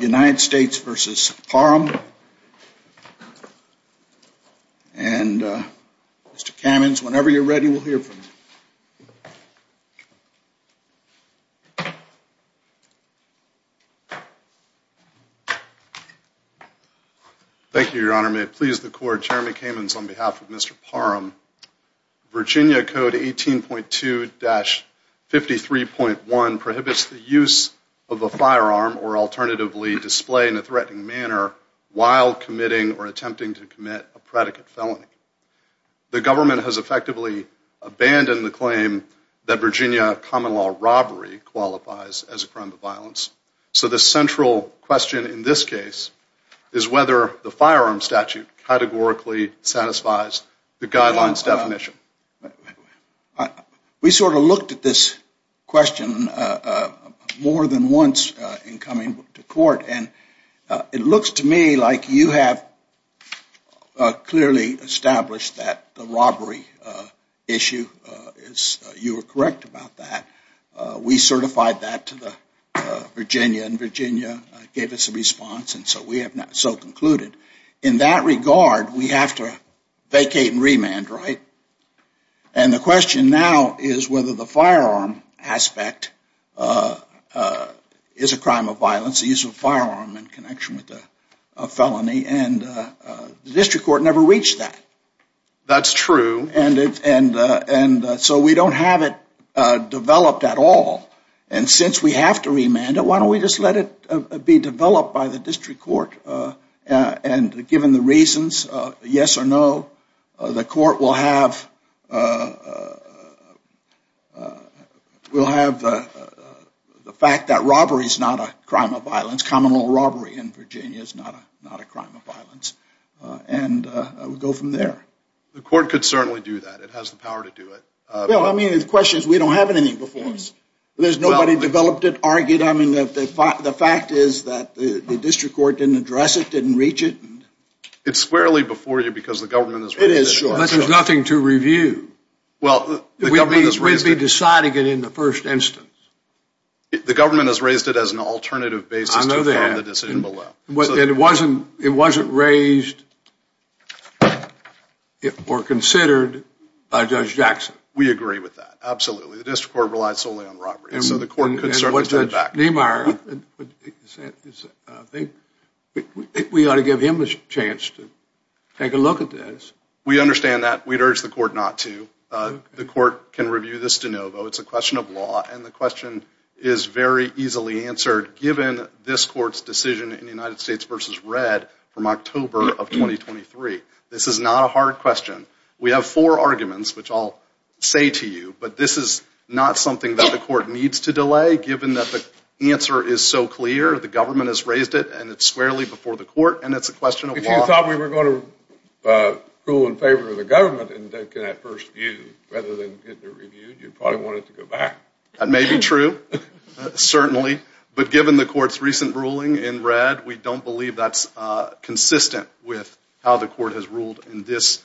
United States v. Parham. And Mr. Kamens, whenever you're ready, we'll hear from you. Thank you, Your Honor. May it please the Court, Jeremy Kamens on behalf of Mr. Parham. Virginia Code 18.2-53.1 prohibits the use of a firearm or alternatively display in a threatening manner while committing or attempting to commit a predicate felony. The government has effectively abandoned the claim that Virginia common law robbery qualifies as a crime of violence. So the central question in this case is whether the firearm statute categorically satisfies the guidelines definition. We sort of looked at this question more than once in coming to court and it looks to me like you have clearly established that the robbery issue is, you were correct about that. We certified that to Virginia and Virginia gave us a response and so we have now concluded. In that regard, we have to vacate and remand, right? And the question now is whether the firearm aspect is a crime of violence, the use of a firearm in connection with a felony and the district court never reached that. That's true. And so we don't have it developed at all. And since we have to remand it, why don't we just let it be developed by the district court? And given the reasons, yes or no, the court will have the fact that robbery is not a crime of violence. Common law robbery in Virginia is not a crime of violence. And we go from there. The court could certainly do that. It has the power to do it. Well, I mean, the question is we don't have anything before us. There's nobody developed it, argued. I mean, the fact is that the district court didn't address it, didn't reach it. It's squarely before you because the government has raised it. It is, sure. But there's nothing to review. Well, the government has raised it. We'd be deciding it in the first instance. The government has raised it as an alternative basis to inform the decision below. And it wasn't raised or considered by Judge Jackson. We agree with that. Absolutely. The district court relies solely on robbery. And Judge Niemeyer, we ought to give him a chance to take a look at this. We understand that. We'd urge the court not to. The court can review this de novo. It's a question of law. And the question is very easily answered given this court's decision in the United States v. Red from October of 2023. This is not a hard question. We have four arguments, which I'll say to you. But this is not something that the court needs to delay given that the answer is so clear. The government has raised it. And it's squarely before the court. And it's a question of law. If you thought we were going to rule in favor of the government in that first view, rather than get it reviewed, you'd probably want it to go back. That may be true, certainly. But given the court's recent ruling in Red, we don't believe that's consistent with how the court has ruled in this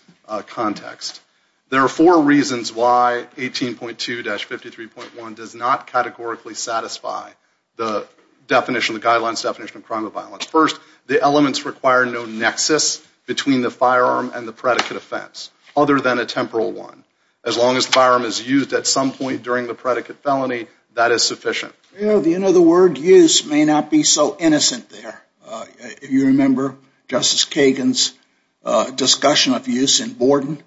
context. There are four reasons why 18.2-53.1 does not categorically satisfy the definition, the guidelines definition of crime of violence. First, the elements require no nexus between the firearm and the predicate offense, other than a temporal one. As long as the firearm is used at some point during the predicate felony, that is sufficient. You know the word use may not be so innocent there. You remember Justice Kagan's discussion of use in Borden.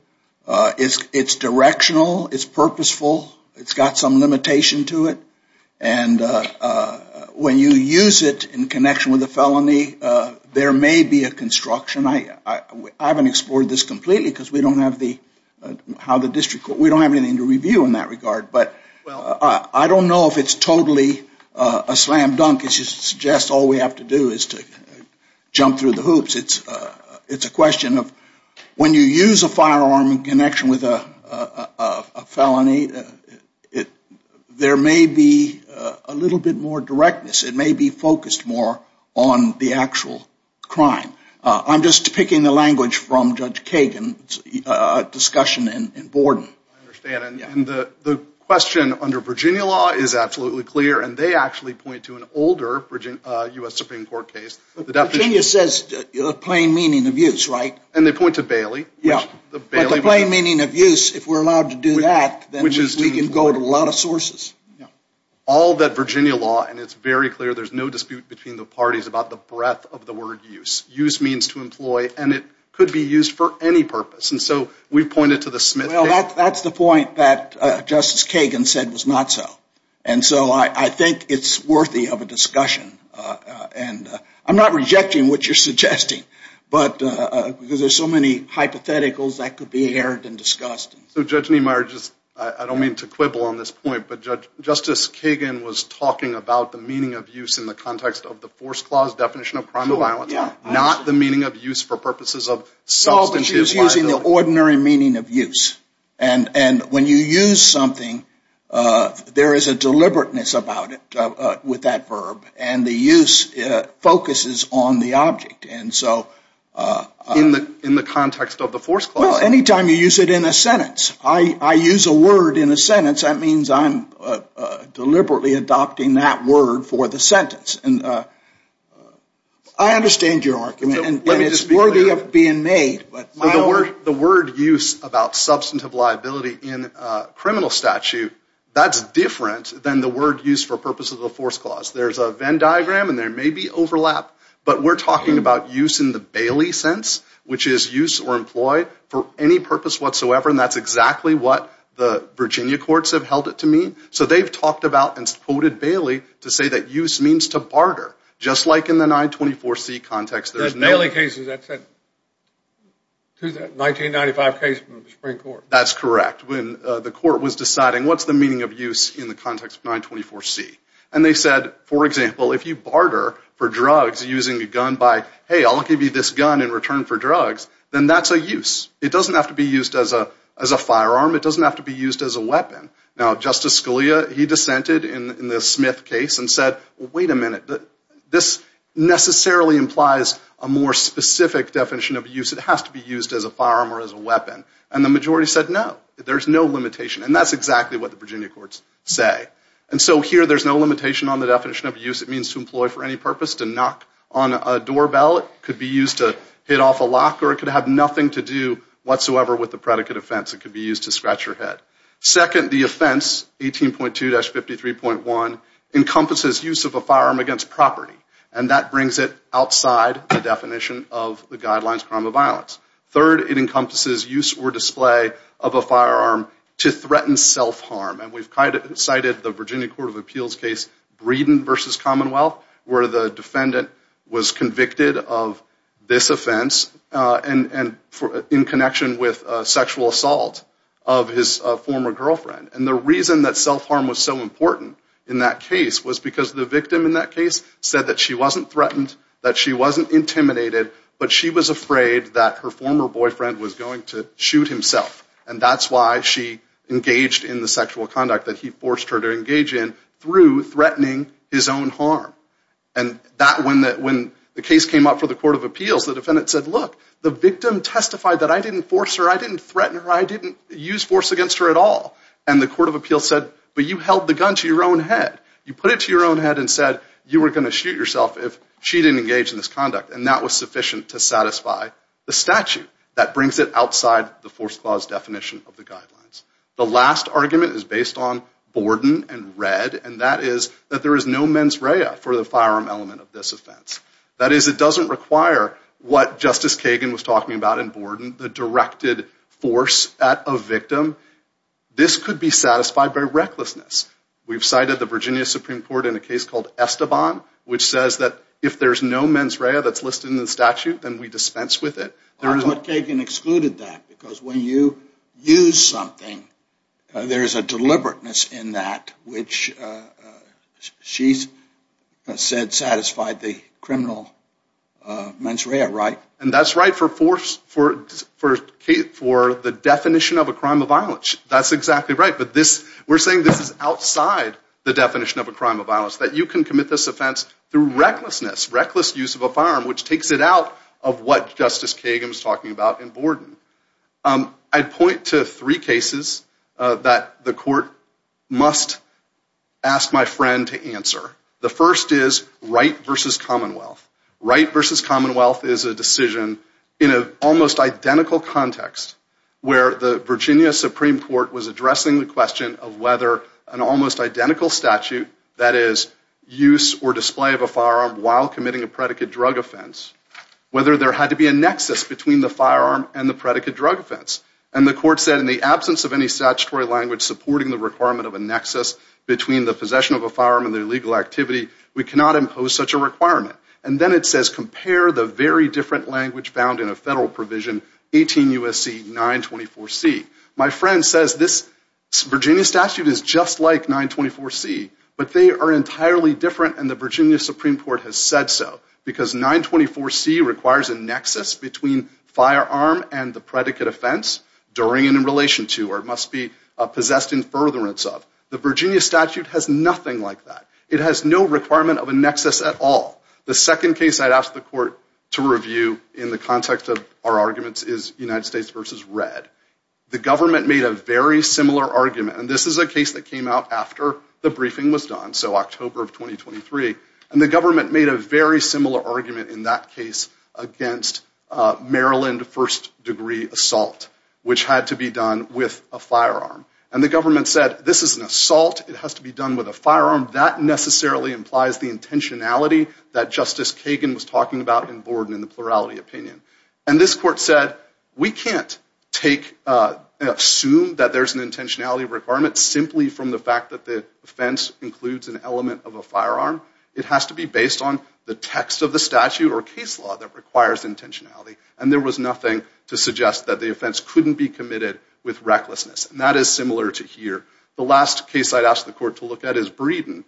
It's directional. It's purposeful. It's got some limitation to it. And when you use it in connection with a felony, there may be a construction. I haven't explored this completely because we don't have the district court. We don't have anything to review in that regard. But I don't know if it's totally a slam dunk. It just suggests all we have to do is to jump through the hoops. It's a question of when you use a firearm in connection with a felony, there may be a little bit more directness. It may be focused more on the actual crime. I'm just picking the language from Judge Kagan's discussion in Borden. I understand. And the question under Virginia law is absolutely clear, and they actually point to an older U.S. Supreme Court case. Virginia says plain meaning of use, right? And they point to Bailey. But the plain meaning of use, if we're allowed to do that, then we can go to a lot of sources. All that Virginia law, and it's very clear, there's no dispute between the parties about the breadth of the word use. Use means to employ, and it could be used for any purpose. And so we've pointed to the Smith case. Well, that's the point that Justice Kagan said was not so. And so I think it's worthy of a discussion. I'm not rejecting what you're suggesting, because there's so many hypotheticals that could be aired and discussed. So, Judge Niemeyer, I don't mean to quibble on this point, but Justice Kagan was talking about the meaning of use in the context of the Force Clause definition of crime of violence, not the meaning of use for purposes of substantive liability. She was using the ordinary meaning of use. And when you use something, there is a deliberateness about it with that verb. And the use focuses on the object. In the context of the Force Clause? Well, any time you use it in a sentence. I use a word in a sentence, that means I'm deliberately adopting that word for the sentence. I understand your argument, and it's worthy of being made. The word use about substantive liability in a criminal statute, that's different than the word use for purposes of the Force Clause. There's a Venn diagram, and there may be overlap, but we're talking about use in the Bailey sense, which is use or employ for any purpose whatsoever, and that's exactly what the Virginia courts have held it to mean. So they've talked about and quoted Bailey to say that use means to barter, just like in the 924C context. The Bailey cases, that's a 1995 case from the Supreme Court. That's correct. When the court was deciding what's the meaning of use in the context of 924C, and they said, for example, if you barter for drugs using a gun by, hey, I'll give you this gun in return for drugs, then that's a use. It doesn't have to be used as a firearm. It doesn't have to be used as a weapon. Now, Justice Scalia, he dissented in the Smith case and said, wait a minute, this necessarily implies a more specific definition of use. It has to be used as a firearm or as a weapon, and the majority said no. There's no limitation, and that's exactly what the Virginia courts say. And so here there's no limitation on the definition of use. It means to employ for any purpose, to knock on a doorbell. It could be used to hit off a lock, or it could have nothing to do whatsoever with the predicate offense. It could be used to scratch your head. Second, the offense, 18.2-53.1, encompasses use of a firearm against property, and that brings it outside the definition of the guidelines of crime of violence. Third, it encompasses use or display of a firearm to threaten self-harm, and we've cited the Virginia Court of Appeals case Breeden v. Commonwealth, where the defendant was convicted of this offense in connection with sexual assault of his former girlfriend, and the reason that self-harm was so important in that case was because the victim in that case said that she wasn't threatened, that she wasn't intimidated, but she was afraid that her former boyfriend was going to shoot himself, and that's why she engaged in the sexual conduct that he forced her to engage in through threatening his own harm. And when the case came up for the Court of Appeals, the defendant said, look, the victim testified that I didn't force her, I didn't threaten her, I didn't use force against her at all, and the Court of Appeals said, but you held the gun to your own head. You put it to your own head and said you were going to shoot yourself if she didn't engage in this conduct, and that was sufficient to satisfy the statute. That brings it outside the force clause definition of the guidelines. The last argument is based on Borden and Red, and that is that there is no mens rea for the firearm element of this offense. That is, it doesn't require what Justice Kagan was talking about in Borden, the directed force at a victim. This could be satisfied by recklessness. We've cited the Virginia Supreme Court in a case called Esteban, which says that if there's no mens rea that's listed in the statute, then we dispense with it. But Kagan excluded that because when you use something, there's a deliberateness in that, which she said satisfied the criminal mens rea, right? And that's right for the definition of a crime of violence. That's exactly right. But we're saying this is outside the definition of a crime of violence, that you can commit this offense through recklessness, reckless use of a firearm, which takes it out of what Justice Kagan was talking about in Borden. I'd point to three cases that the court must ask my friend to answer. The first is Wright v. Commonwealth. Wright v. Commonwealth is a decision in an almost identical context where the Virginia Supreme Court was addressing the question of whether an almost identical statute, that is, use or display of a firearm while committing a predicate drug offense, whether there had to be a nexus between the firearm and the predicate drug offense. And the court said, in the absence of any statutory language supporting the requirement of a nexus between the possession of a firearm and the illegal activity, we cannot impose such a requirement. And then it says compare the very different language found in a federal provision, 18 U.S.C. 924C. My friend says this Virginia statute is just like 924C, but they are entirely different, and the Virginia Supreme Court has said so because 924C requires a nexus between firearm and the predicate offense during and in relation to or must be possessed in furtherance of. The Virginia statute has nothing like that. It has no requirement of a nexus at all. The second case I'd ask the court to review in the context of our arguments is United States v. Red. The government made a very similar argument, and this is a case that came out after the briefing was done, so October of 2023, and the government made a very similar argument in that case against Maryland first-degree assault, which had to be done with a firearm. And the government said, this is an assault. It has to be done with a firearm. That necessarily implies the intentionality that Justice Kagan was talking about in Borden in the plurality opinion. And this court said, we can't assume that there's an intentionality requirement simply from the fact that the offense includes an element of a firearm. It has to be based on the text of the statute or case law that requires intentionality. And there was nothing to suggest that the offense couldn't be committed with recklessness. And that is similar to here. The last case I'd ask the court to look at is Breeden.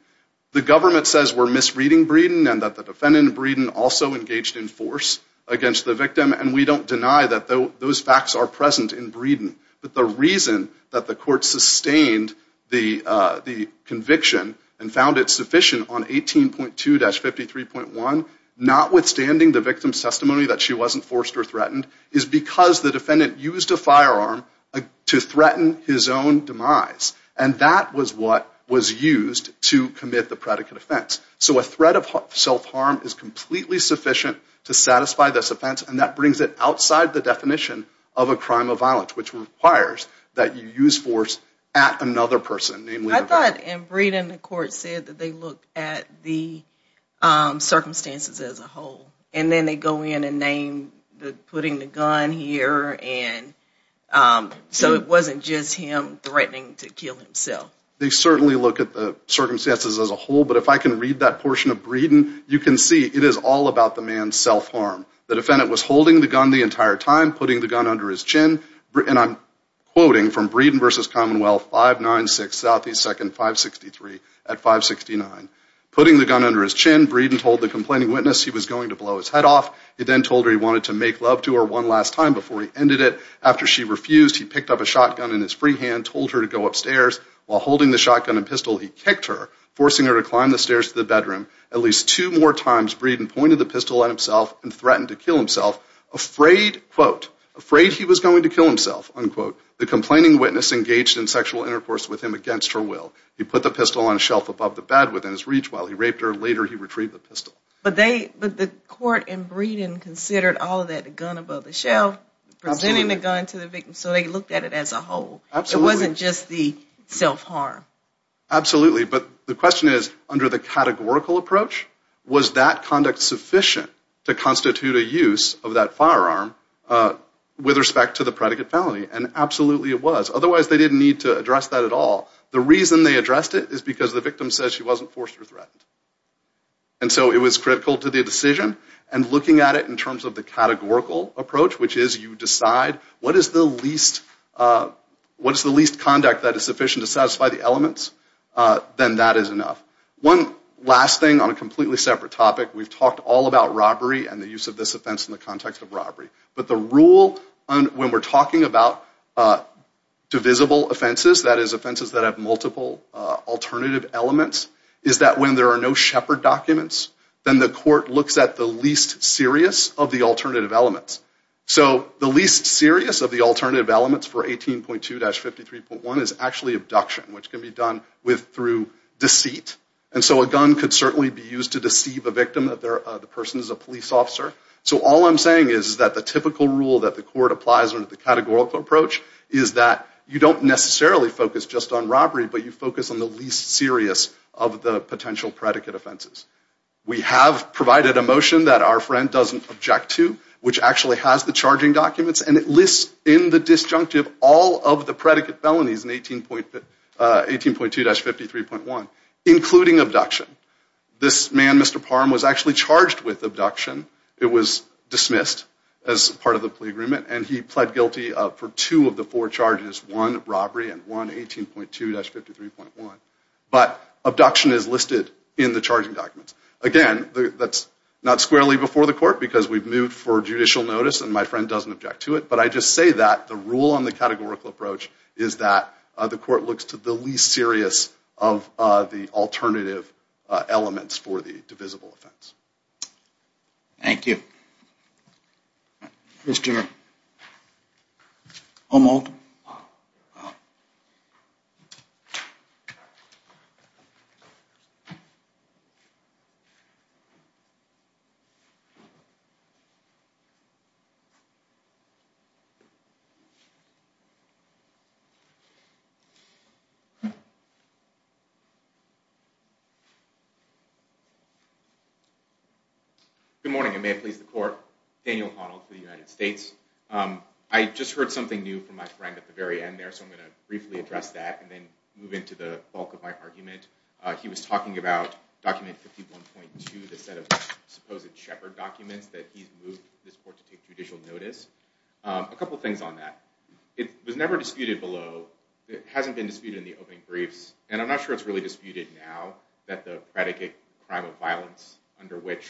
The government says we're misreading Breeden and that the defendant in Breeden also engaged in force against the victim, and we don't deny that those facts are present in Breeden. But the reason that the court sustained the conviction and found it sufficient on 18.2-53.1, notwithstanding the victim's testimony that she wasn't forced or threatened, is because the defendant used a firearm to threaten his own demise. And that was what was used to commit the predicate offense. So a threat of self-harm is completely sufficient to satisfy this offense, and that brings it outside the definition of a crime of violence, which requires that you use force at another person, namely the victim. I thought in Breeden the court said that they look at the circumstances as a whole, and then they go in and name putting the gun here, and so it wasn't just him threatening to kill himself. They certainly look at the circumstances as a whole, but if I can read that portion of Breeden, you can see it is all about the man's self-harm. The defendant was holding the gun the entire time, putting the gun under his chin, and I'm quoting from Breeden v. Commonwealth 596 S. 2nd 563 at 569. Putting the gun under his chin, Breeden told the complaining witness he was going to blow his head off. He then told her he wanted to make love to her one last time before he ended it. After she refused, he picked up a shotgun in his free hand, told her to go upstairs. While holding the shotgun and pistol, he kicked her, forcing her to climb the stairs to the bedroom. At least two more times, Breeden pointed the pistol at himself and threatened to kill himself. Afraid, quote, afraid he was going to kill himself, unquote, the complaining witness engaged in sexual intercourse with him against her will. He put the pistol on a shelf above the bed within his reach while he raped her. Later, he retrieved the pistol. But the court in Breeden considered all of that, the gun above the shelf, presenting the gun to the victim so they looked at it as a whole. It wasn't just the self-harm. Absolutely. But the question is, under the categorical approach, was that conduct sufficient to constitute a use of that firearm with respect to the predicate felony? And absolutely it was. Otherwise, they didn't need to address that at all. The reason they addressed it is because the victim says she wasn't forced or threatened. And so it was critical to the decision. And looking at it in terms of the categorical approach, which is you decide what is the least conduct that is sufficient to satisfy the elements, then that is enough. One last thing on a completely separate topic. We've talked all about robbery and the use of this offense in the context of robbery. But the rule when we're talking about divisible offenses, that is offenses that have multiple alternative elements, is that when there are no Shepard documents, then the court looks at the least serious of the alternative elements. So the least serious of the alternative elements for 18.2-53.1 is actually abduction, which can be done through deceit. And so a gun could certainly be used to deceive a victim that the person is a police officer. So all I'm saying is that the typical rule that the court applies under the categorical approach is that you don't necessarily focus just on robbery, but you focus on the least serious of the potential predicate offenses. We have provided a motion that our friend doesn't object to, which actually has the charging documents, and it lists in the disjunctive all of the predicate felonies in 18.2-53.1, including abduction. This man, Mr. Parham, was actually charged with abduction. It was dismissed as part of the plea agreement, and he pled guilty for two of the four charges, one robbery and one 18.2-53.1. But abduction is listed in the charging documents. Again, that's not squarely before the court, because we've moved for judicial notice, and my friend doesn't object to it. But I just say that the rule on the categorical approach is that the court looks to the least serious of the alternative elements for the divisible offense. Thank you. Mr. O'Malton. Mr. O'Malton. Good morning, and may it please the court. Daniel O'Connell for the United States. I just heard something new from my friend at the very end there, so I'm going to briefly address that and then move into the bulk of my argument. He was talking about document 51.2, the set of supposed shepherd documents that he's moved this court to take judicial notice. A couple things on that. It was never disputed below. It hasn't been disputed in the opening briefs, and I'm not sure it's really disputed now that the predicate crime of violence under which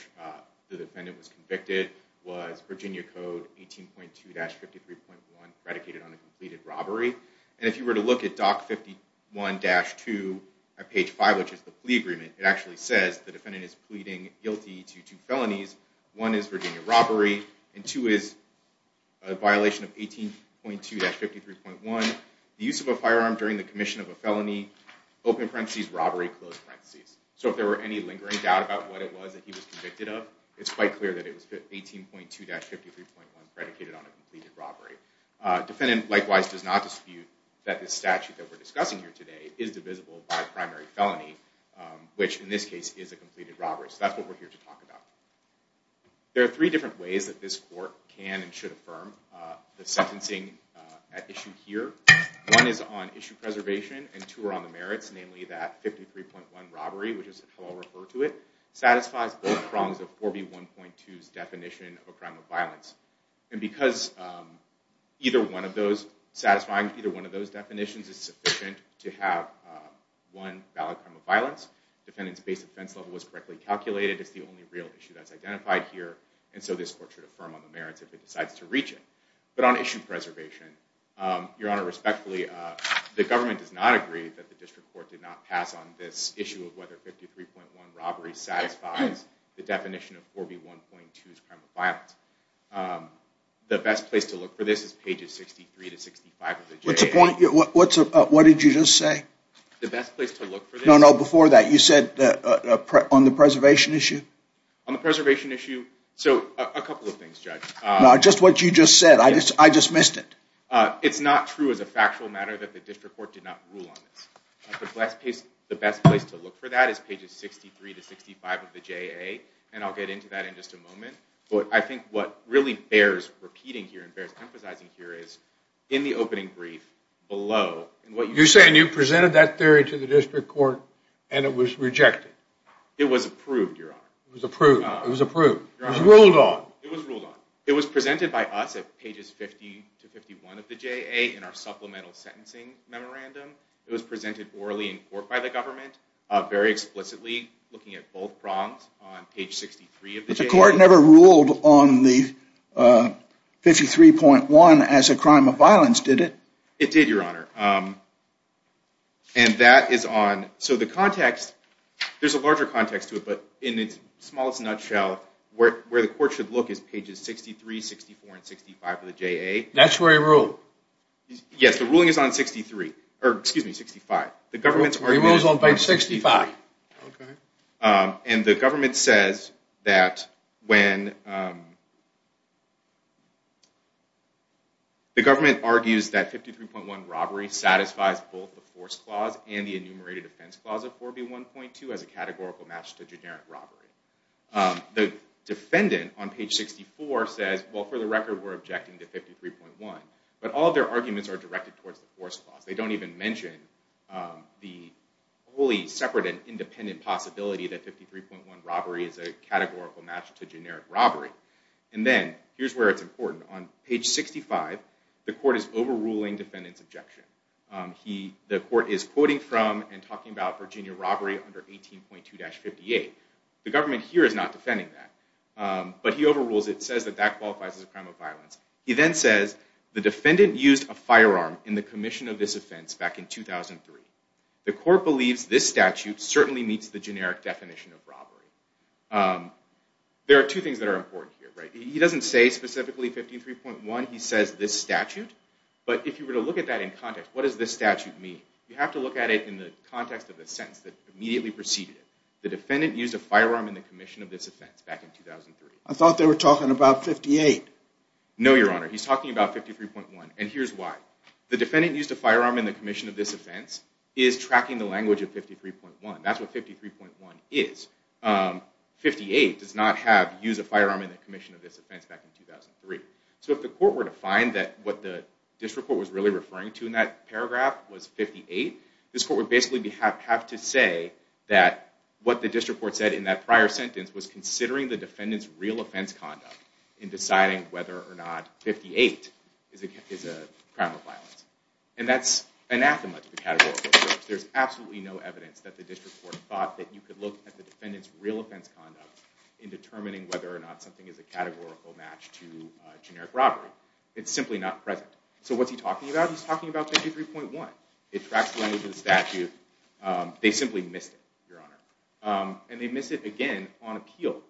the defendant was convicted was Virginia Code 18.2-53.1, predicated on a completed robbery. And if you were to look at doc 51-2 at page 5, which is the plea agreement, it actually says the defendant is pleading guilty to two felonies. One is Virginia robbery, and two is a violation of 18.2-53.1, the use of a firearm during the commission of a felony, open parentheses, robbery, close parentheses. So if there were any lingering doubt about what it was that he was convicted of, it's quite clear that it was 18.2-53.1, predicated on a completed robbery. Defendant, likewise, does not dispute that this statute that we're discussing here today is divisible by a primary felony, which in this case is a completed robbery. So that's what we're here to talk about. There are three different ways that this court can and should affirm the sentencing at issue here. One is on issue preservation, and two are on the merits, namely that 53.1 robbery, which is how I'll refer to it, satisfies both prongs of 4B1.2's definition of a crime of violence. And because satisfying either one of those definitions is sufficient to have one valid crime of violence, defendant's base offense level was correctly calculated. It's the only real issue that's identified here, and so this court should affirm on the merits if it decides to reach it. But on issue preservation, Your Honor, respectfully, the government does not agree that the district court did not pass on this issue of whether 53.1 robbery satisfies the definition of 4B1.2's crime of violence. The best place to look for this is pages 63 to 65 of the J.A.A. What's the point? What did you just say? The best place to look for this? No, no, before that, you said on the preservation issue? On the preservation issue, so a couple of things, Judge. No, just what you just said. I just missed it. It's not true as a factual matter that the district court did not rule on this. The best place to look for that is pages 63 to 65 of the J.A.A., and I'll get into that in just a moment. But I think what really bears repeating here and bears emphasizing here is, in the opening brief below, what you just said— You're saying you presented that theory to the district court and it was rejected. It was approved, Your Honor. It was approved. It was approved. It was ruled on. It was ruled on. It was presented by us at pages 50 to 51 of the J.A.A. in our supplemental sentencing memorandum. It was presented orally in court by the government, very explicitly looking at both prongs on page 63 of the J.A.A. But the court never ruled on the 53.1 as a crime of violence, did it? It did, Your Honor. And that is on—so the context, there's a larger context to it, but in its smallest nutshell, where the court should look is pages 63, 64, and 65 of the J.A.A. That's where he ruled. Yes, the ruling is on 63—or, excuse me, 65. The government's argument— He rules on page 65. Okay. And the government says that when— the government argues that 53.1 robbery satisfies both the force clause and the enumerated offense clause of 4B1.2 as a categorical match to generic robbery. The defendant, on page 64, says, well, for the record, we're objecting to 53.1, but all of their arguments are directed towards the force clause. They don't even mention the wholly separate and independent possibility that 53.1 robbery is a categorical match to generic robbery. And then, here's where it's important. On page 65, the court is overruling defendant's objection. The court is quoting from and talking about Virginia robbery under 18.2-58. The government here is not defending that, but he overrules it and says that that qualifies as a crime of violence. He then says, the defendant used a firearm in the commission of this offense back in 2003. The court believes this statute certainly meets the generic definition of robbery. There are two things that are important here. He doesn't say specifically 53.1. He says this statute. But if you were to look at that in context, what does this statute mean? You have to look at it in the context of the sentence that immediately preceded it. The defendant used a firearm in the commission of this offense back in 2003. I thought they were talking about 58. No, Your Honor. He's talking about 53.1. And here's why. The defendant used a firearm in the commission of this offense is tracking the language of 53.1. That's what 53.1 is. 58 does not have use a firearm in the commission of this offense back in 2003. So if the court were to find that what the district court was really referring to in that paragraph was 58, this court would basically have to say that what the district court said in that prior sentence was considering the defendant's real offense conduct in deciding whether or not 58 is a crime of violence. And that's anathema to the categorical search. There's absolutely no evidence that the district court thought that you could look at the defendant's real offense conduct in determining whether or not something is a categorical match to generic robbery. It's simply not present. So what's he talking about? He's talking about 53.1. It tracks the language of the statute. They simply missed it, Your Honor. And they missed it again on appeal.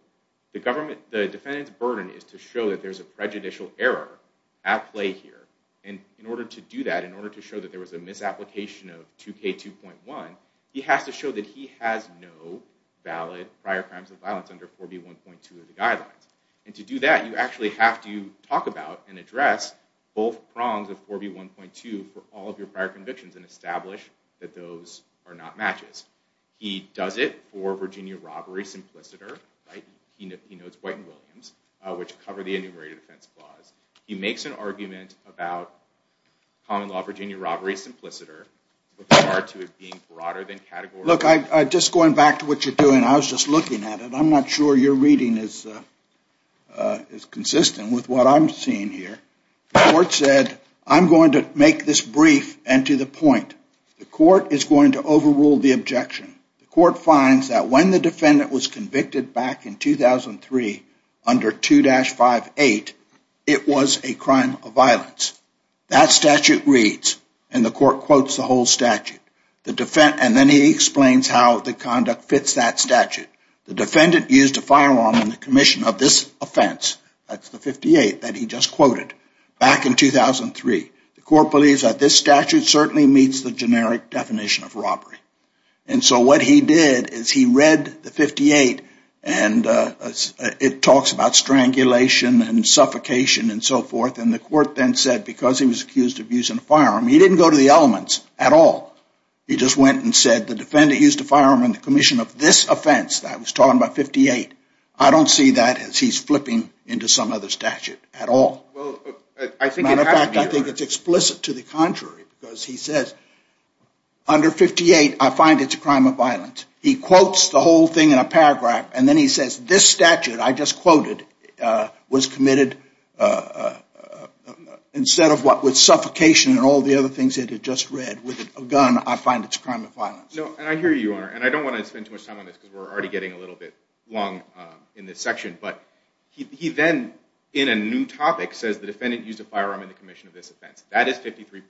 The defendant's burden is to show that there's a prejudicial error at play here. And in order to do that, in order to show that there was a misapplication of 2K2.1, he has to show that he has no valid prior crimes of violence under 4B1.2 of the guidelines. And to do that, you actually have to talk about and address both prongs of 4B1.2 for all of your prior convictions and establish that those are not matches. He does it for Virginia robbery simpliciter. He notes White and Williams, which cover the enumerated offense clause. He makes an argument about common law Virginia robbery simpliciter with regard to it being broader than category. Look, just going back to what you're doing, I was just looking at it. I'm not sure your reading is consistent with what I'm seeing here. The court said, I'm going to make this brief and to the point. The court is going to overrule the objection. The court finds that when the defendant was convicted back in 2003 under 2-58, it was a crime of violence. That statute reads, and the court quotes the whole statute. And then he explains how the conduct fits that statute. The defendant used a firearm in the commission of this offense, that's the 58 that he just quoted, back in 2003. The court believes that this statute certainly meets the generic definition of robbery. And so what he did is he read the 58 and it talks about strangulation and suffocation and so forth. And the court then said, because he was accused of using a firearm, he didn't go to the elements at all. He just went and said, the defendant used a firearm in the commission of this offense. I was talking about 58. I don't see that as he's flipping into some other statute at all. As a matter of fact, I think it's explicit to the contrary. Because he says, under 58, I find it's a crime of violence. He quotes the whole thing in a paragraph and then he says, this statute I just quoted was committed instead of what? With suffocation and all the other things it had just read. With a gun, I find it's a crime of violence. And I hear you, Your Honor. And I don't want to spend too much time on this because we're already getting a little bit long in this section. But he then, in a new topic, says the defendant used a firearm in the commission of this offense. That is 53.1.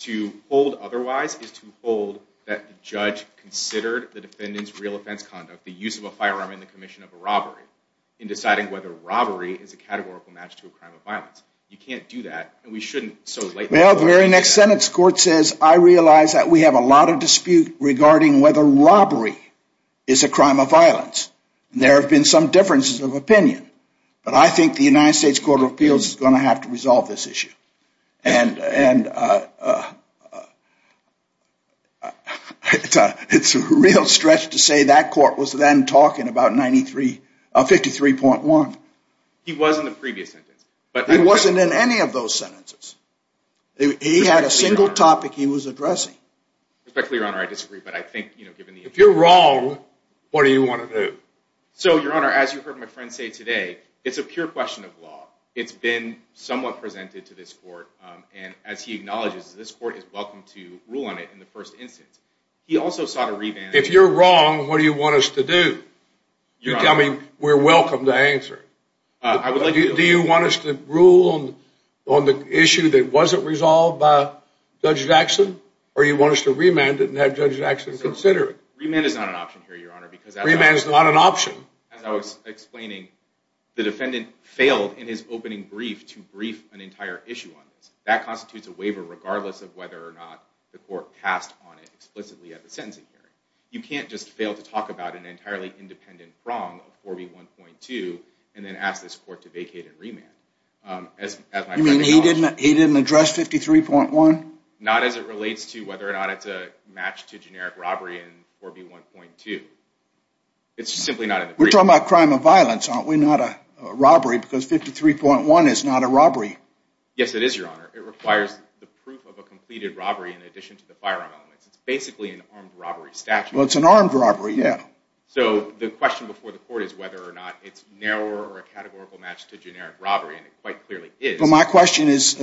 To hold otherwise is to hold that the judge considered the defendant's real offense conduct, the use of a firearm in the commission of a robbery, in deciding whether robbery is a categorical match to a crime of violence. You can't do that. And we shouldn't. Well, the very next sentence, the court says, I realize that we have a lot of dispute regarding whether robbery is a crime of violence. There have been some differences of opinion. But I think the United States Court of Appeals is going to have to resolve this issue. And it's a real stretch to say that court was then talking about 53.1. He was in the previous sentence. He wasn't in any of those sentences. He had a single topic he was addressing. Respectfully, Your Honor, I disagree. But I think, you know, given the issue. If you're wrong, what do you want to do? So, Your Honor, as you heard my friend say today, it's a pure question of law. It's been somewhat presented to this court. And as he acknowledges, this court is welcome to rule on it in the first instance. He also sought a revamping. If you're wrong, what do you want us to do? You tell me. We're welcome to answer. Do you want us to rule on the issue that wasn't resolved by Judge Jackson? Or do you want us to remand it and have Judge Jackson consider it? Remand is not an option here, Your Honor. Remand is not an option. As I was explaining, the defendant failed in his opening brief to brief an entire issue on this. That constitutes a waiver, regardless of whether or not the court passed on it explicitly at the sentencing hearing. You can't just fail to talk about an entirely independent wrong of 4B1.2 and then ask this court to vacate and remand. You mean he didn't address 53.1? Not as it relates to whether or not it's a match to generic robbery in 4B1.2. It's simply not in the brief. We're talking about crime of violence, aren't we? Not a robbery, because 53.1 is not a robbery. Yes, it is, Your Honor. It requires the proof of a completed robbery in addition to the firearm elements. It's basically an armed robbery statute. Well, it's an armed robbery, yeah. So the question before the court is whether or not it's narrower or a categorical match to generic robbery. And it quite clearly is. Well, my question is,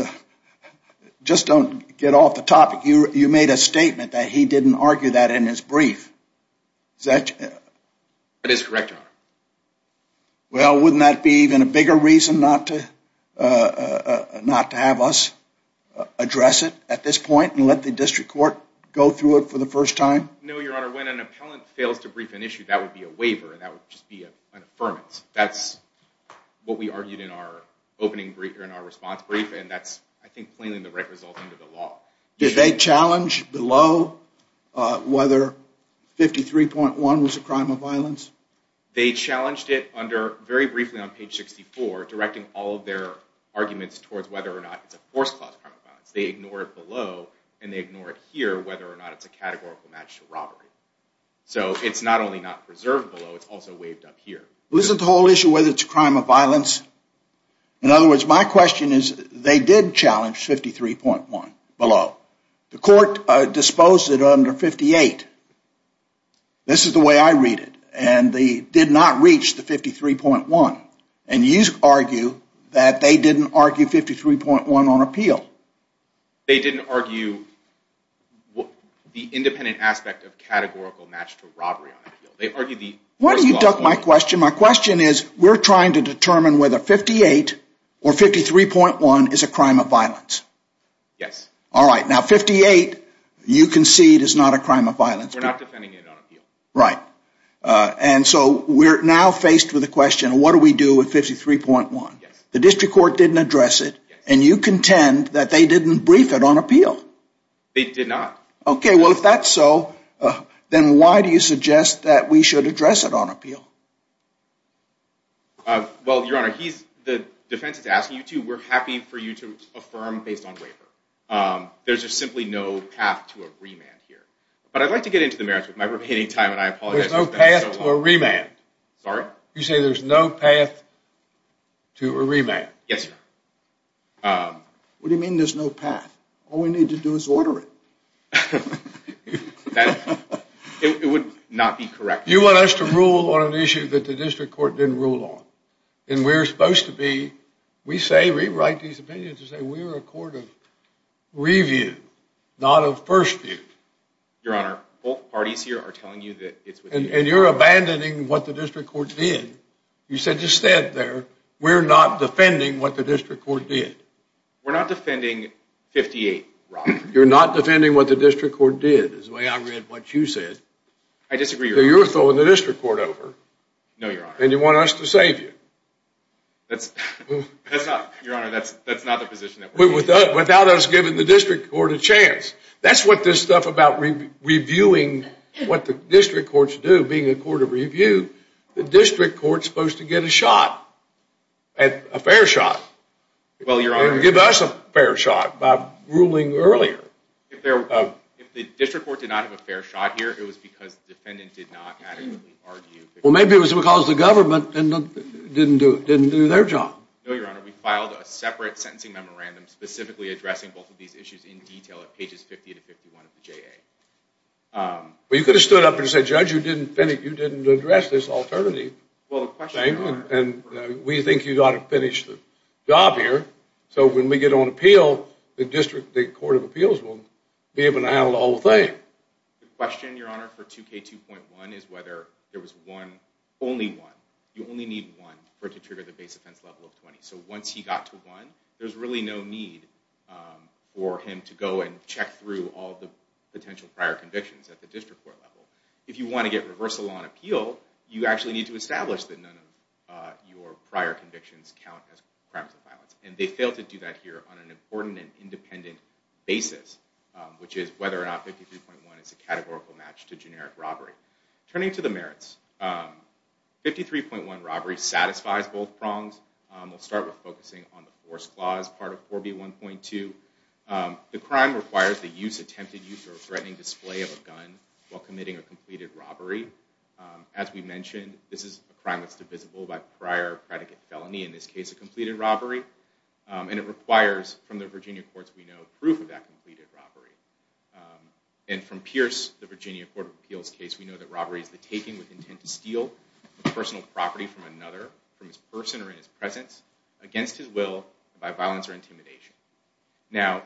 just don't get off the topic. You made a statement that he didn't argue that in his brief. Is that? That is correct, Your Honor. Well, wouldn't that be even a bigger reason not to have us address it at this point and let the district court go through it for the first time? No, Your Honor. When an appellant fails to brief an issue, that would be a waiver. And that would just be an affirmance. That's what we argued in our opening response brief. And that's, I think, plainly the right result under the law. Did they challenge below whether 53.1 was a crime of violence? They challenged it under, very briefly on page 64, directing all of their arguments towards whether or not it's a forced class crime of violence. They ignore it below, and they ignore it here, whether or not it's a categorical match to robbery. So it's not only not preserved below, it's also waived up here. Wasn't the whole issue whether it's a crime of violence? In other words, my question is, they did challenge 53.1 below. The court disposed it under 58. This is the way I read it. And they did not reach the 53.1. And you argue that they didn't argue 53.1 on appeal. They didn't argue the independent aspect of categorical match to robbery on appeal. Why don't you duck my question? My question is, we're trying to determine whether 58 or 53.1 is a crime of violence. Yes. All right, now 58, you concede, is not a crime of violence. We're not defending it on appeal. Right. And so we're now faced with the question, what do we do with 53.1? Yes. The district court didn't address it, and you contend that they didn't brief it on appeal. They did not. OK, well, if that's so, then why do you suggest that we should address it on appeal? Well, Your Honor, the defense is asking you to. We're happy for you to affirm based on waiver. There's just simply no path to a remand here. But I'd like to get into the merits with my remaining time, and I apologize. There's no path to a remand. Sorry? You say there's no path to a remand. Yes, Your Honor. What do you mean there's no path? All we need to do is order it. It would not be correct. You want us to rule on an issue that the district court didn't rule on. And we're supposed to be, we say we write these opinions. We say we're a court of review, not of first view. Your Honor, both parties here are telling you that it's within your power. And you're abandoning what the district court did. You said just stand there. We're not defending what the district court did. We're not defending 58, Robert. You're not defending what the district court did, is the way I read what you said. So you're throwing the district court over. No, Your Honor. And you want us to save you. That's not, Your Honor, that's not the position that we're in. Without us giving the district court a chance. That's what this stuff about reviewing what the district courts do, being a court of review. The district court's supposed to get a shot, a fair shot. Well, Your Honor. And give us a fair shot by ruling earlier. If the district court did not have a fair shot here, it was because the defendant did not adequately argue. Well, maybe it was because the government didn't do their job. No, Your Honor. We filed a separate sentencing memorandum specifically addressing both of these issues in detail at pages 50 to 51 of the JA. Well, you could have stood up and said, Judge, you didn't address this alternative thing. And we think you ought to finish the job here. So when we get on appeal, the district court of appeals will be able to handle the whole thing. The question, Your Honor, for 2K2.1 is whether there was one, only one. You only need one for it to trigger the base offense level of 20. So once he got to one, there's really no need for him to go and check through all the potential prior convictions at the district court level. If you want to get reversal on appeal, you actually need to establish that none of your prior convictions count as crimes of violence. And they failed to do that here on an important and independent basis, which is whether or not 53.1 is a categorical match to generic robbery. Turning to the merits, 53.1 robbery satisfies both prongs. We'll start with focusing on the force clause part of 4B1.2. The crime requires the use, attempted use, or threatening display of a gun while committing a completed robbery. As we mentioned, this is a crime that's divisible by prior predicate felony, in this case, a completed robbery. And it requires, from the Virginia courts we know, proof of that completed robbery. And from Pierce, the Virginia Court of Appeals case, we know that robbery is the taking with intent to steal a personal property from another, from his person or in his presence, against his will, by violence or intimidation. Now,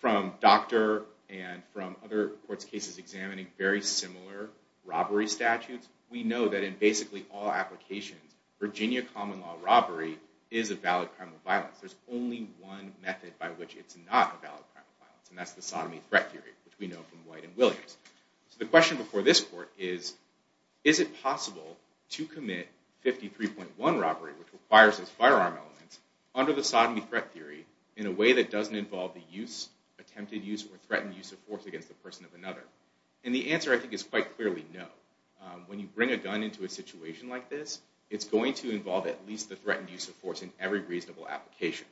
from Doctor and from other courts' cases examining very similar robbery statutes, we know that in basically all applications, Virginia common law robbery is a valid crime of violence. There's only one method by which it's not a valid crime of violence, and that's the sodomy threat theory, which we know from White and Williams. So the question before this court is, is it possible to commit 53.1 robbery, which requires those firearm elements, under the sodomy threat theory in a way that doesn't involve the use, attempted use, or threatened use of force against the person of another? And the answer, I think, is quite clearly no. it's going to involve at least the threatened use of force in every reasonable application.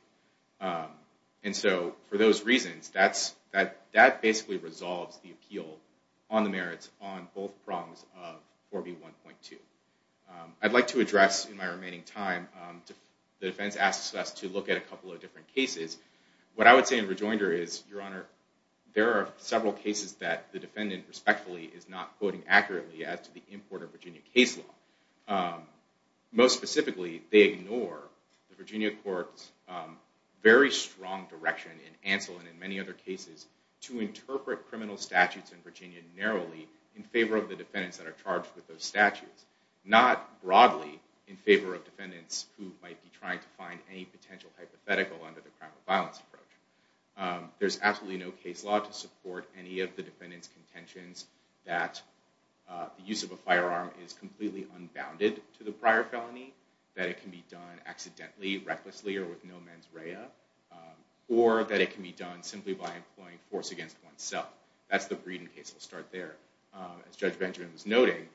And so, for those reasons, that basically resolves the appeal on the merits on both prongs of 4B1.2. I'd like to address, in my remaining time, the defense asks us to look at a couple of different cases. What I would say in rejoinder is, Your Honor, there are several cases that the defendant respectfully is not quoting accurately as to the import of Virginia case law. Most specifically, they ignore the Virginia court's very strong direction in Anselm and in many other cases to interpret criminal statutes in Virginia narrowly in favor of the defendants that are charged with those statutes, not broadly in favor of defendants who might be trying to find any potential hypothetical under the crime of violence approach. There's absolutely no case law to support any of the defendants' contentions that the use of a firearm is completely unbounded to the prior felony, that it can be done accidentally, recklessly, or with no mens rea, or that it can be done simply by employing force against oneself. That's the Breeden case. I'll start there. As Judge Benjamin was noting,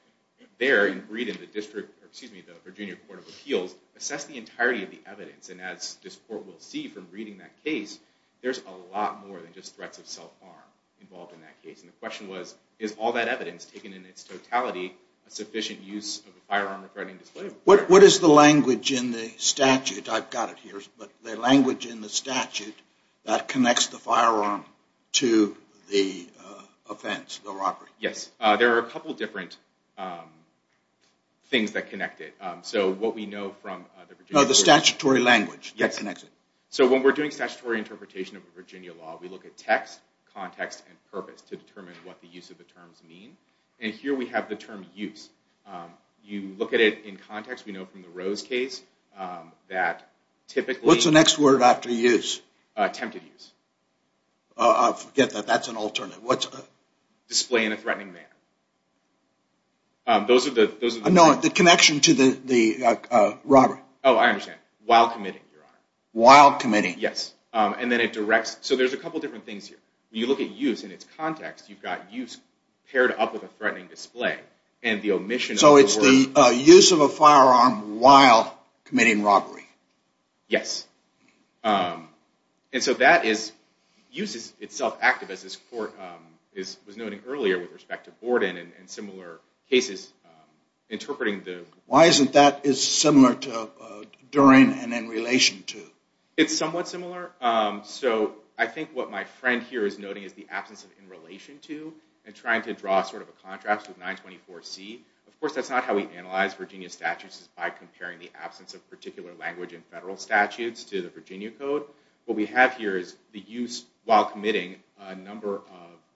there, in Breeden, the Virginia Court of Appeals assessed the entirety of the evidence. And as this court will see from reading that case, there's a lot more than just threats of self-harm involved in that case. And the question was, is all that evidence taken in its totality a sufficient use of a firearm threatening display of authority? What is the language in the statute, I've got it here, but the language in the statute that connects the firearm to the offense, the robbery? Yes, there are a couple different things that connect it. So what we know from the Virginia Court of Appeals... No, the statutory language that connects it. So when we're doing statutory interpretation of a Virginia law, we look at text, context, and purpose to determine what the use of the terms mean. And here we have the term use. You look at it in context. We know from the Rose case that typically... What's the next word after use? Attempted use. I forget that. That's an alternate. Display in a threatening manner. Those are the... No, the connection to the robbery. Oh, I understand. While committing, Your Honor. While committing. Yes. And then it directs... So there's a couple different things here. When you look at use in its context, you've got use paired up with a threatening display. And the omission... So it's the use of a firearm while committing robbery. Yes. And so that is... Use is itself active, as this Court was noting earlier with respect to Borden and similar cases interpreting the... Why isn't that similar to or in and in relation to? It's somewhat similar. I think what my friend here is noting is the absence of in relation to and trying to draw a contrast with 924C. Of course, that's not how we analyze Virginia statutes is by comparing the absence of particular language in federal statutes to the Virginia Code. What we have here is the use while committing a number of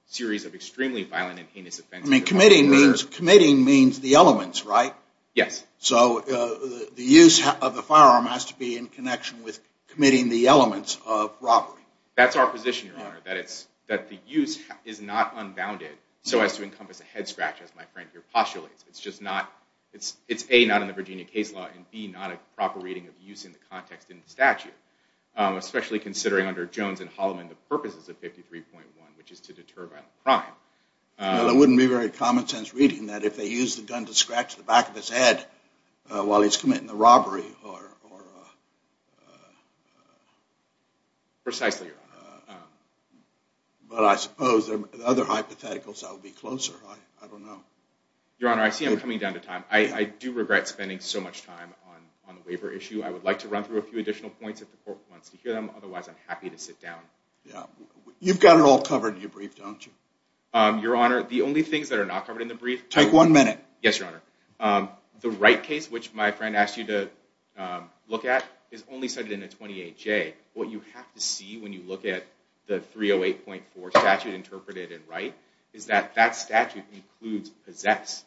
series of extremely violent and heinous offenses. Committing means the elements, right? Yes. So the use of the firearm has to be in connection with committing the elements of robbery. That's our position, Your Honor. That the use is not unbounded so as to encompass a head scratch, as my friend here postulates. It's A, not in the Virginia case law and B, not a proper reading of use in the context in the statute. Especially considering under Jones and Holloman the purposes of 53.1, which is to deter violent crime. It wouldn't be very common sense reading that if they use the gun to scratch the back of his head while he's committing the robbery. Precisely, Your Honor. But I suppose there are other hypotheticals that would be closer. I don't know. Your Honor, I see I'm coming down to time. I do regret spending so much time on the waiver issue. I would like to run through a few additional points if the court wants to hear them. Otherwise, I'm happy to sit down. You've got it all covered in your brief, don't you? Your Honor, the only things that are not covered in the brief... Take one minute. Yes, Your Honor. The Wright case, which my friend asked you to look at, is only cited in a 28J. What you have to see when you look at the 308.4 statute interpreted in Wright is that that statute includes possess.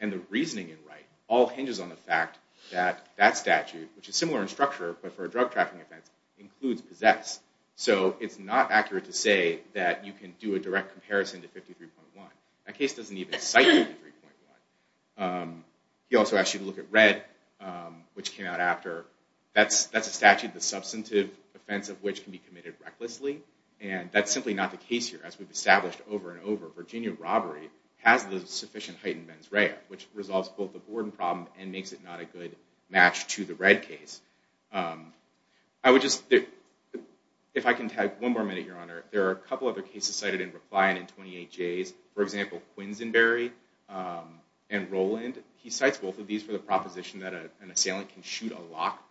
And the reasoning in Wright all hinges on the fact that that statute, which is similar in structure but for a drug trafficking offense, includes possess. So it's not accurate to say that you can do a direct comparison to 53.1. That case doesn't even cite 53.1. He also asked you to look at Red, which came out after. That's a statute, the substantive offense of which can be committed recklessly. And that's simply not the case here, as we've established over and over. Virginia robbery has the sufficient heightened mens rea, which resolves both the Borden problem and makes it not a good match to the Red case. I would just if I can tag one more minute, Your Honor, there are a couple other cases cited in reply and in 28Js. For example, Quinzenberry and Rowland, he cites both of these for the proposition that an assailant can shoot a lock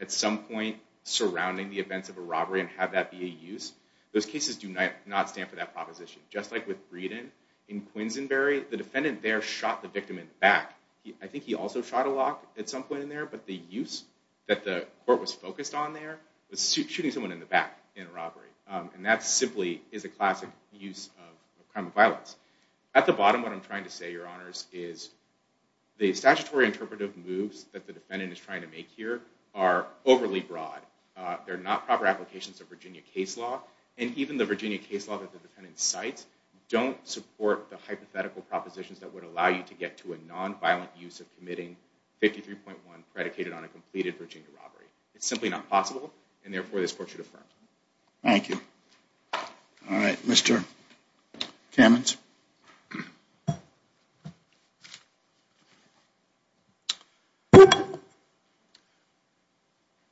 at some point surrounding the events of a robbery and have that be a use. Those cases do not stand for that proposition. Just like with Breeden, in Quinzenberry the defendant there shot the victim in the back. I think he also shot a lock at some point in there, but the use that the court was focused on there was shooting someone in the back in a robbery. And that simply is a classic use of crime of violence. At the bottom, what I'm trying to say, Your Honors, is the statutory interpretive moves that the defendant is trying to make here are overly broad. They're not proper applications of Virginia case law, and even the Virginia case law that the defendant cites don't support the hypothetical propositions that would allow you to get to a non-violent use of committing 53.1 predicated on a completed Virginia robbery. It's simply not possible and therefore this court should affirm. Thank you. Mr. Kamens.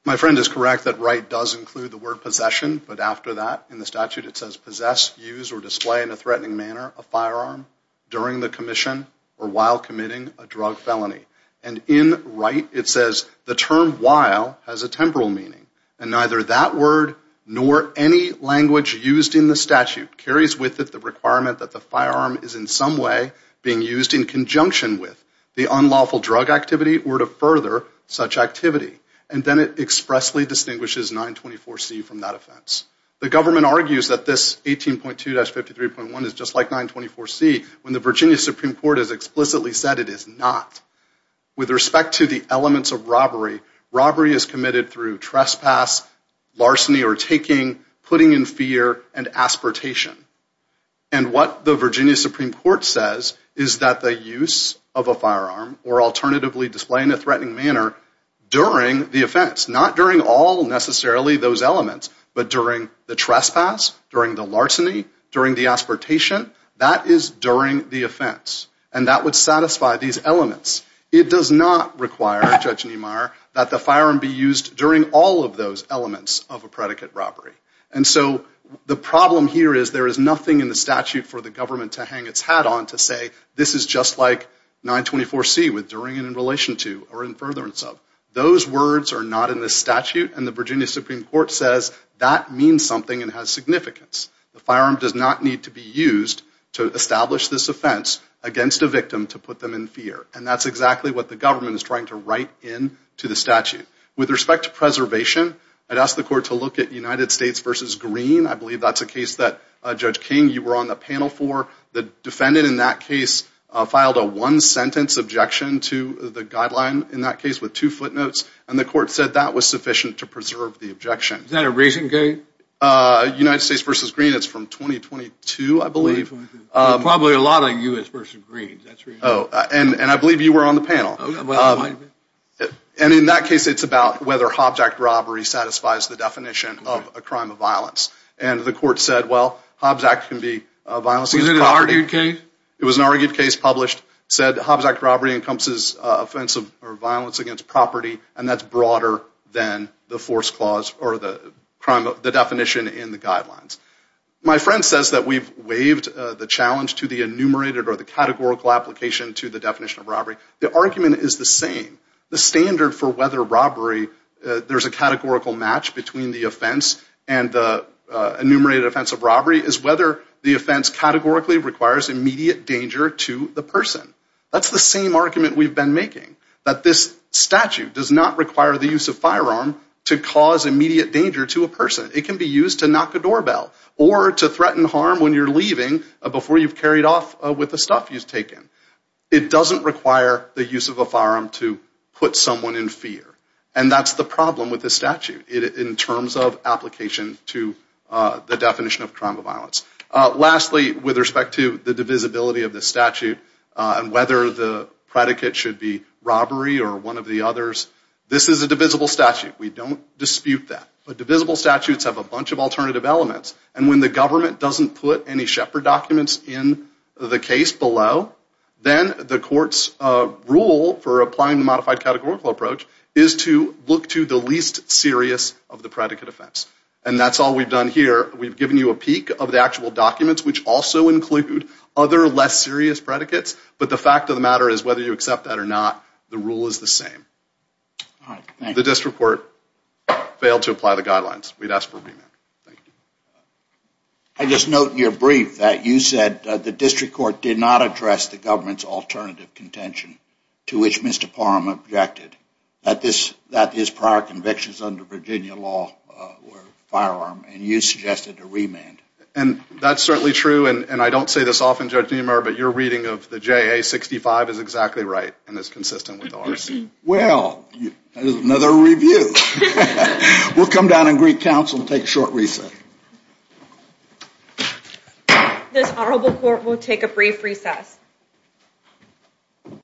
My friend is correct that Wright does include the word possession, but after that in the statute it says possess, use, or display in a threatening manner a firearm during the commission or while committing a drug felony. And in Wright it says the term while has a temporal meaning and neither that word nor any language used in the statute carries with it the requirement that the firearm is in some way being used in conjunction with the unlawful drug activity or to further such activity. And then it expressly distinguishes 924C from that offense. The government argues that this 18.2-53.1 is just like 924C when the Virginia Supreme Court has explicitly said it is not. With respect to the elements of robbery, robbery is committed through trespass, larceny or taking, putting in fear, and aspartation. And what the Virginia Supreme Court says is that the use of a firearm or alternatively display in a threatening manner during the offense, not during all necessarily those elements, but during the trespass, during the larceny, during the aspartation, that is during the offense. And that would satisfy these elements. It does not require Judge Niemeyer that the firearm be used during all of those elements of a predicate robbery. And so the problem here is there is nothing in the statute for the government to hang its hat on to say this is just like 924C with during and in relation to or in furtherance of. Those words are not in the statute and the Virginia Supreme Court says that means something and has significance. The firearm does not need to be used to establish this offense against a victim to put them in fear. And that's exactly what the government is trying to write in to the statute. With respect to preservation, I'd ask the court to look at United States versus Green. I believe that's a case that Judge King you were on the panel for. The defendant in that case filed a one sentence objection to the guideline in that case with two footnotes and the court said that was sufficient to United States versus Green. It's from 2022 I believe. Probably a lot of U.S. versus Green. And I believe you were on the panel. And in that case it's about whether Hobbs Act robbery satisfies the definition of a crime of violence. And the court said well Hobbs Act can be a violence against property. Was it an argued case? It was an argued case published said Hobbs Act robbery encompasses offensive or violence against property and that's broader than the force clause or the definition in the guidelines. My friend says that we've waived the challenge to the enumerated or the categorical application to the definition of robbery. The argument is the same. The standard for whether robbery there's a categorical match between the offense and the enumerated offense of robbery is whether the offense categorically requires immediate danger to the person. That's the same argument we've been making. That this statute does not require the use of firearm to cause immediate danger to a person. It can be used to knock a doorbell or to threaten harm when you're leaving before you've carried off with the stuff you've taken. It doesn't require the use of a firearm to put someone in fear. And that's the problem with the statute in terms of application to the definition of crime of violence. Lastly with respect to the divisibility of the statute and whether the predicate should be This is a divisible statute. We don't dispute that. But divisible statutes have a bunch of alternative elements. And when the government doesn't put any shepherd documents in the case below then the court's rule for applying the modified categorical approach is to look to the least serious of the predicate offense. And that's all we've done here. We've given you a peek of the actual documents which also include other less serious predicates. But the fact of the matter is whether you accept that or not the rule is the same. The district court failed to apply the guidelines. We'd ask for a remand. Thank you. I just note in your brief that you said the district court did not address the government's alternative contention to which Mr. Parham objected. That his prior convictions under Virginia law were firearm. And you suggested a remand. And that's certainly true. And I don't say this often, Judge Niemeyer, but your reading of the JA-65 is exactly right and is consistent with ours. Well, that is another review. We'll come down and greet counsel and take a short recess. This honorable court will take a brief recess.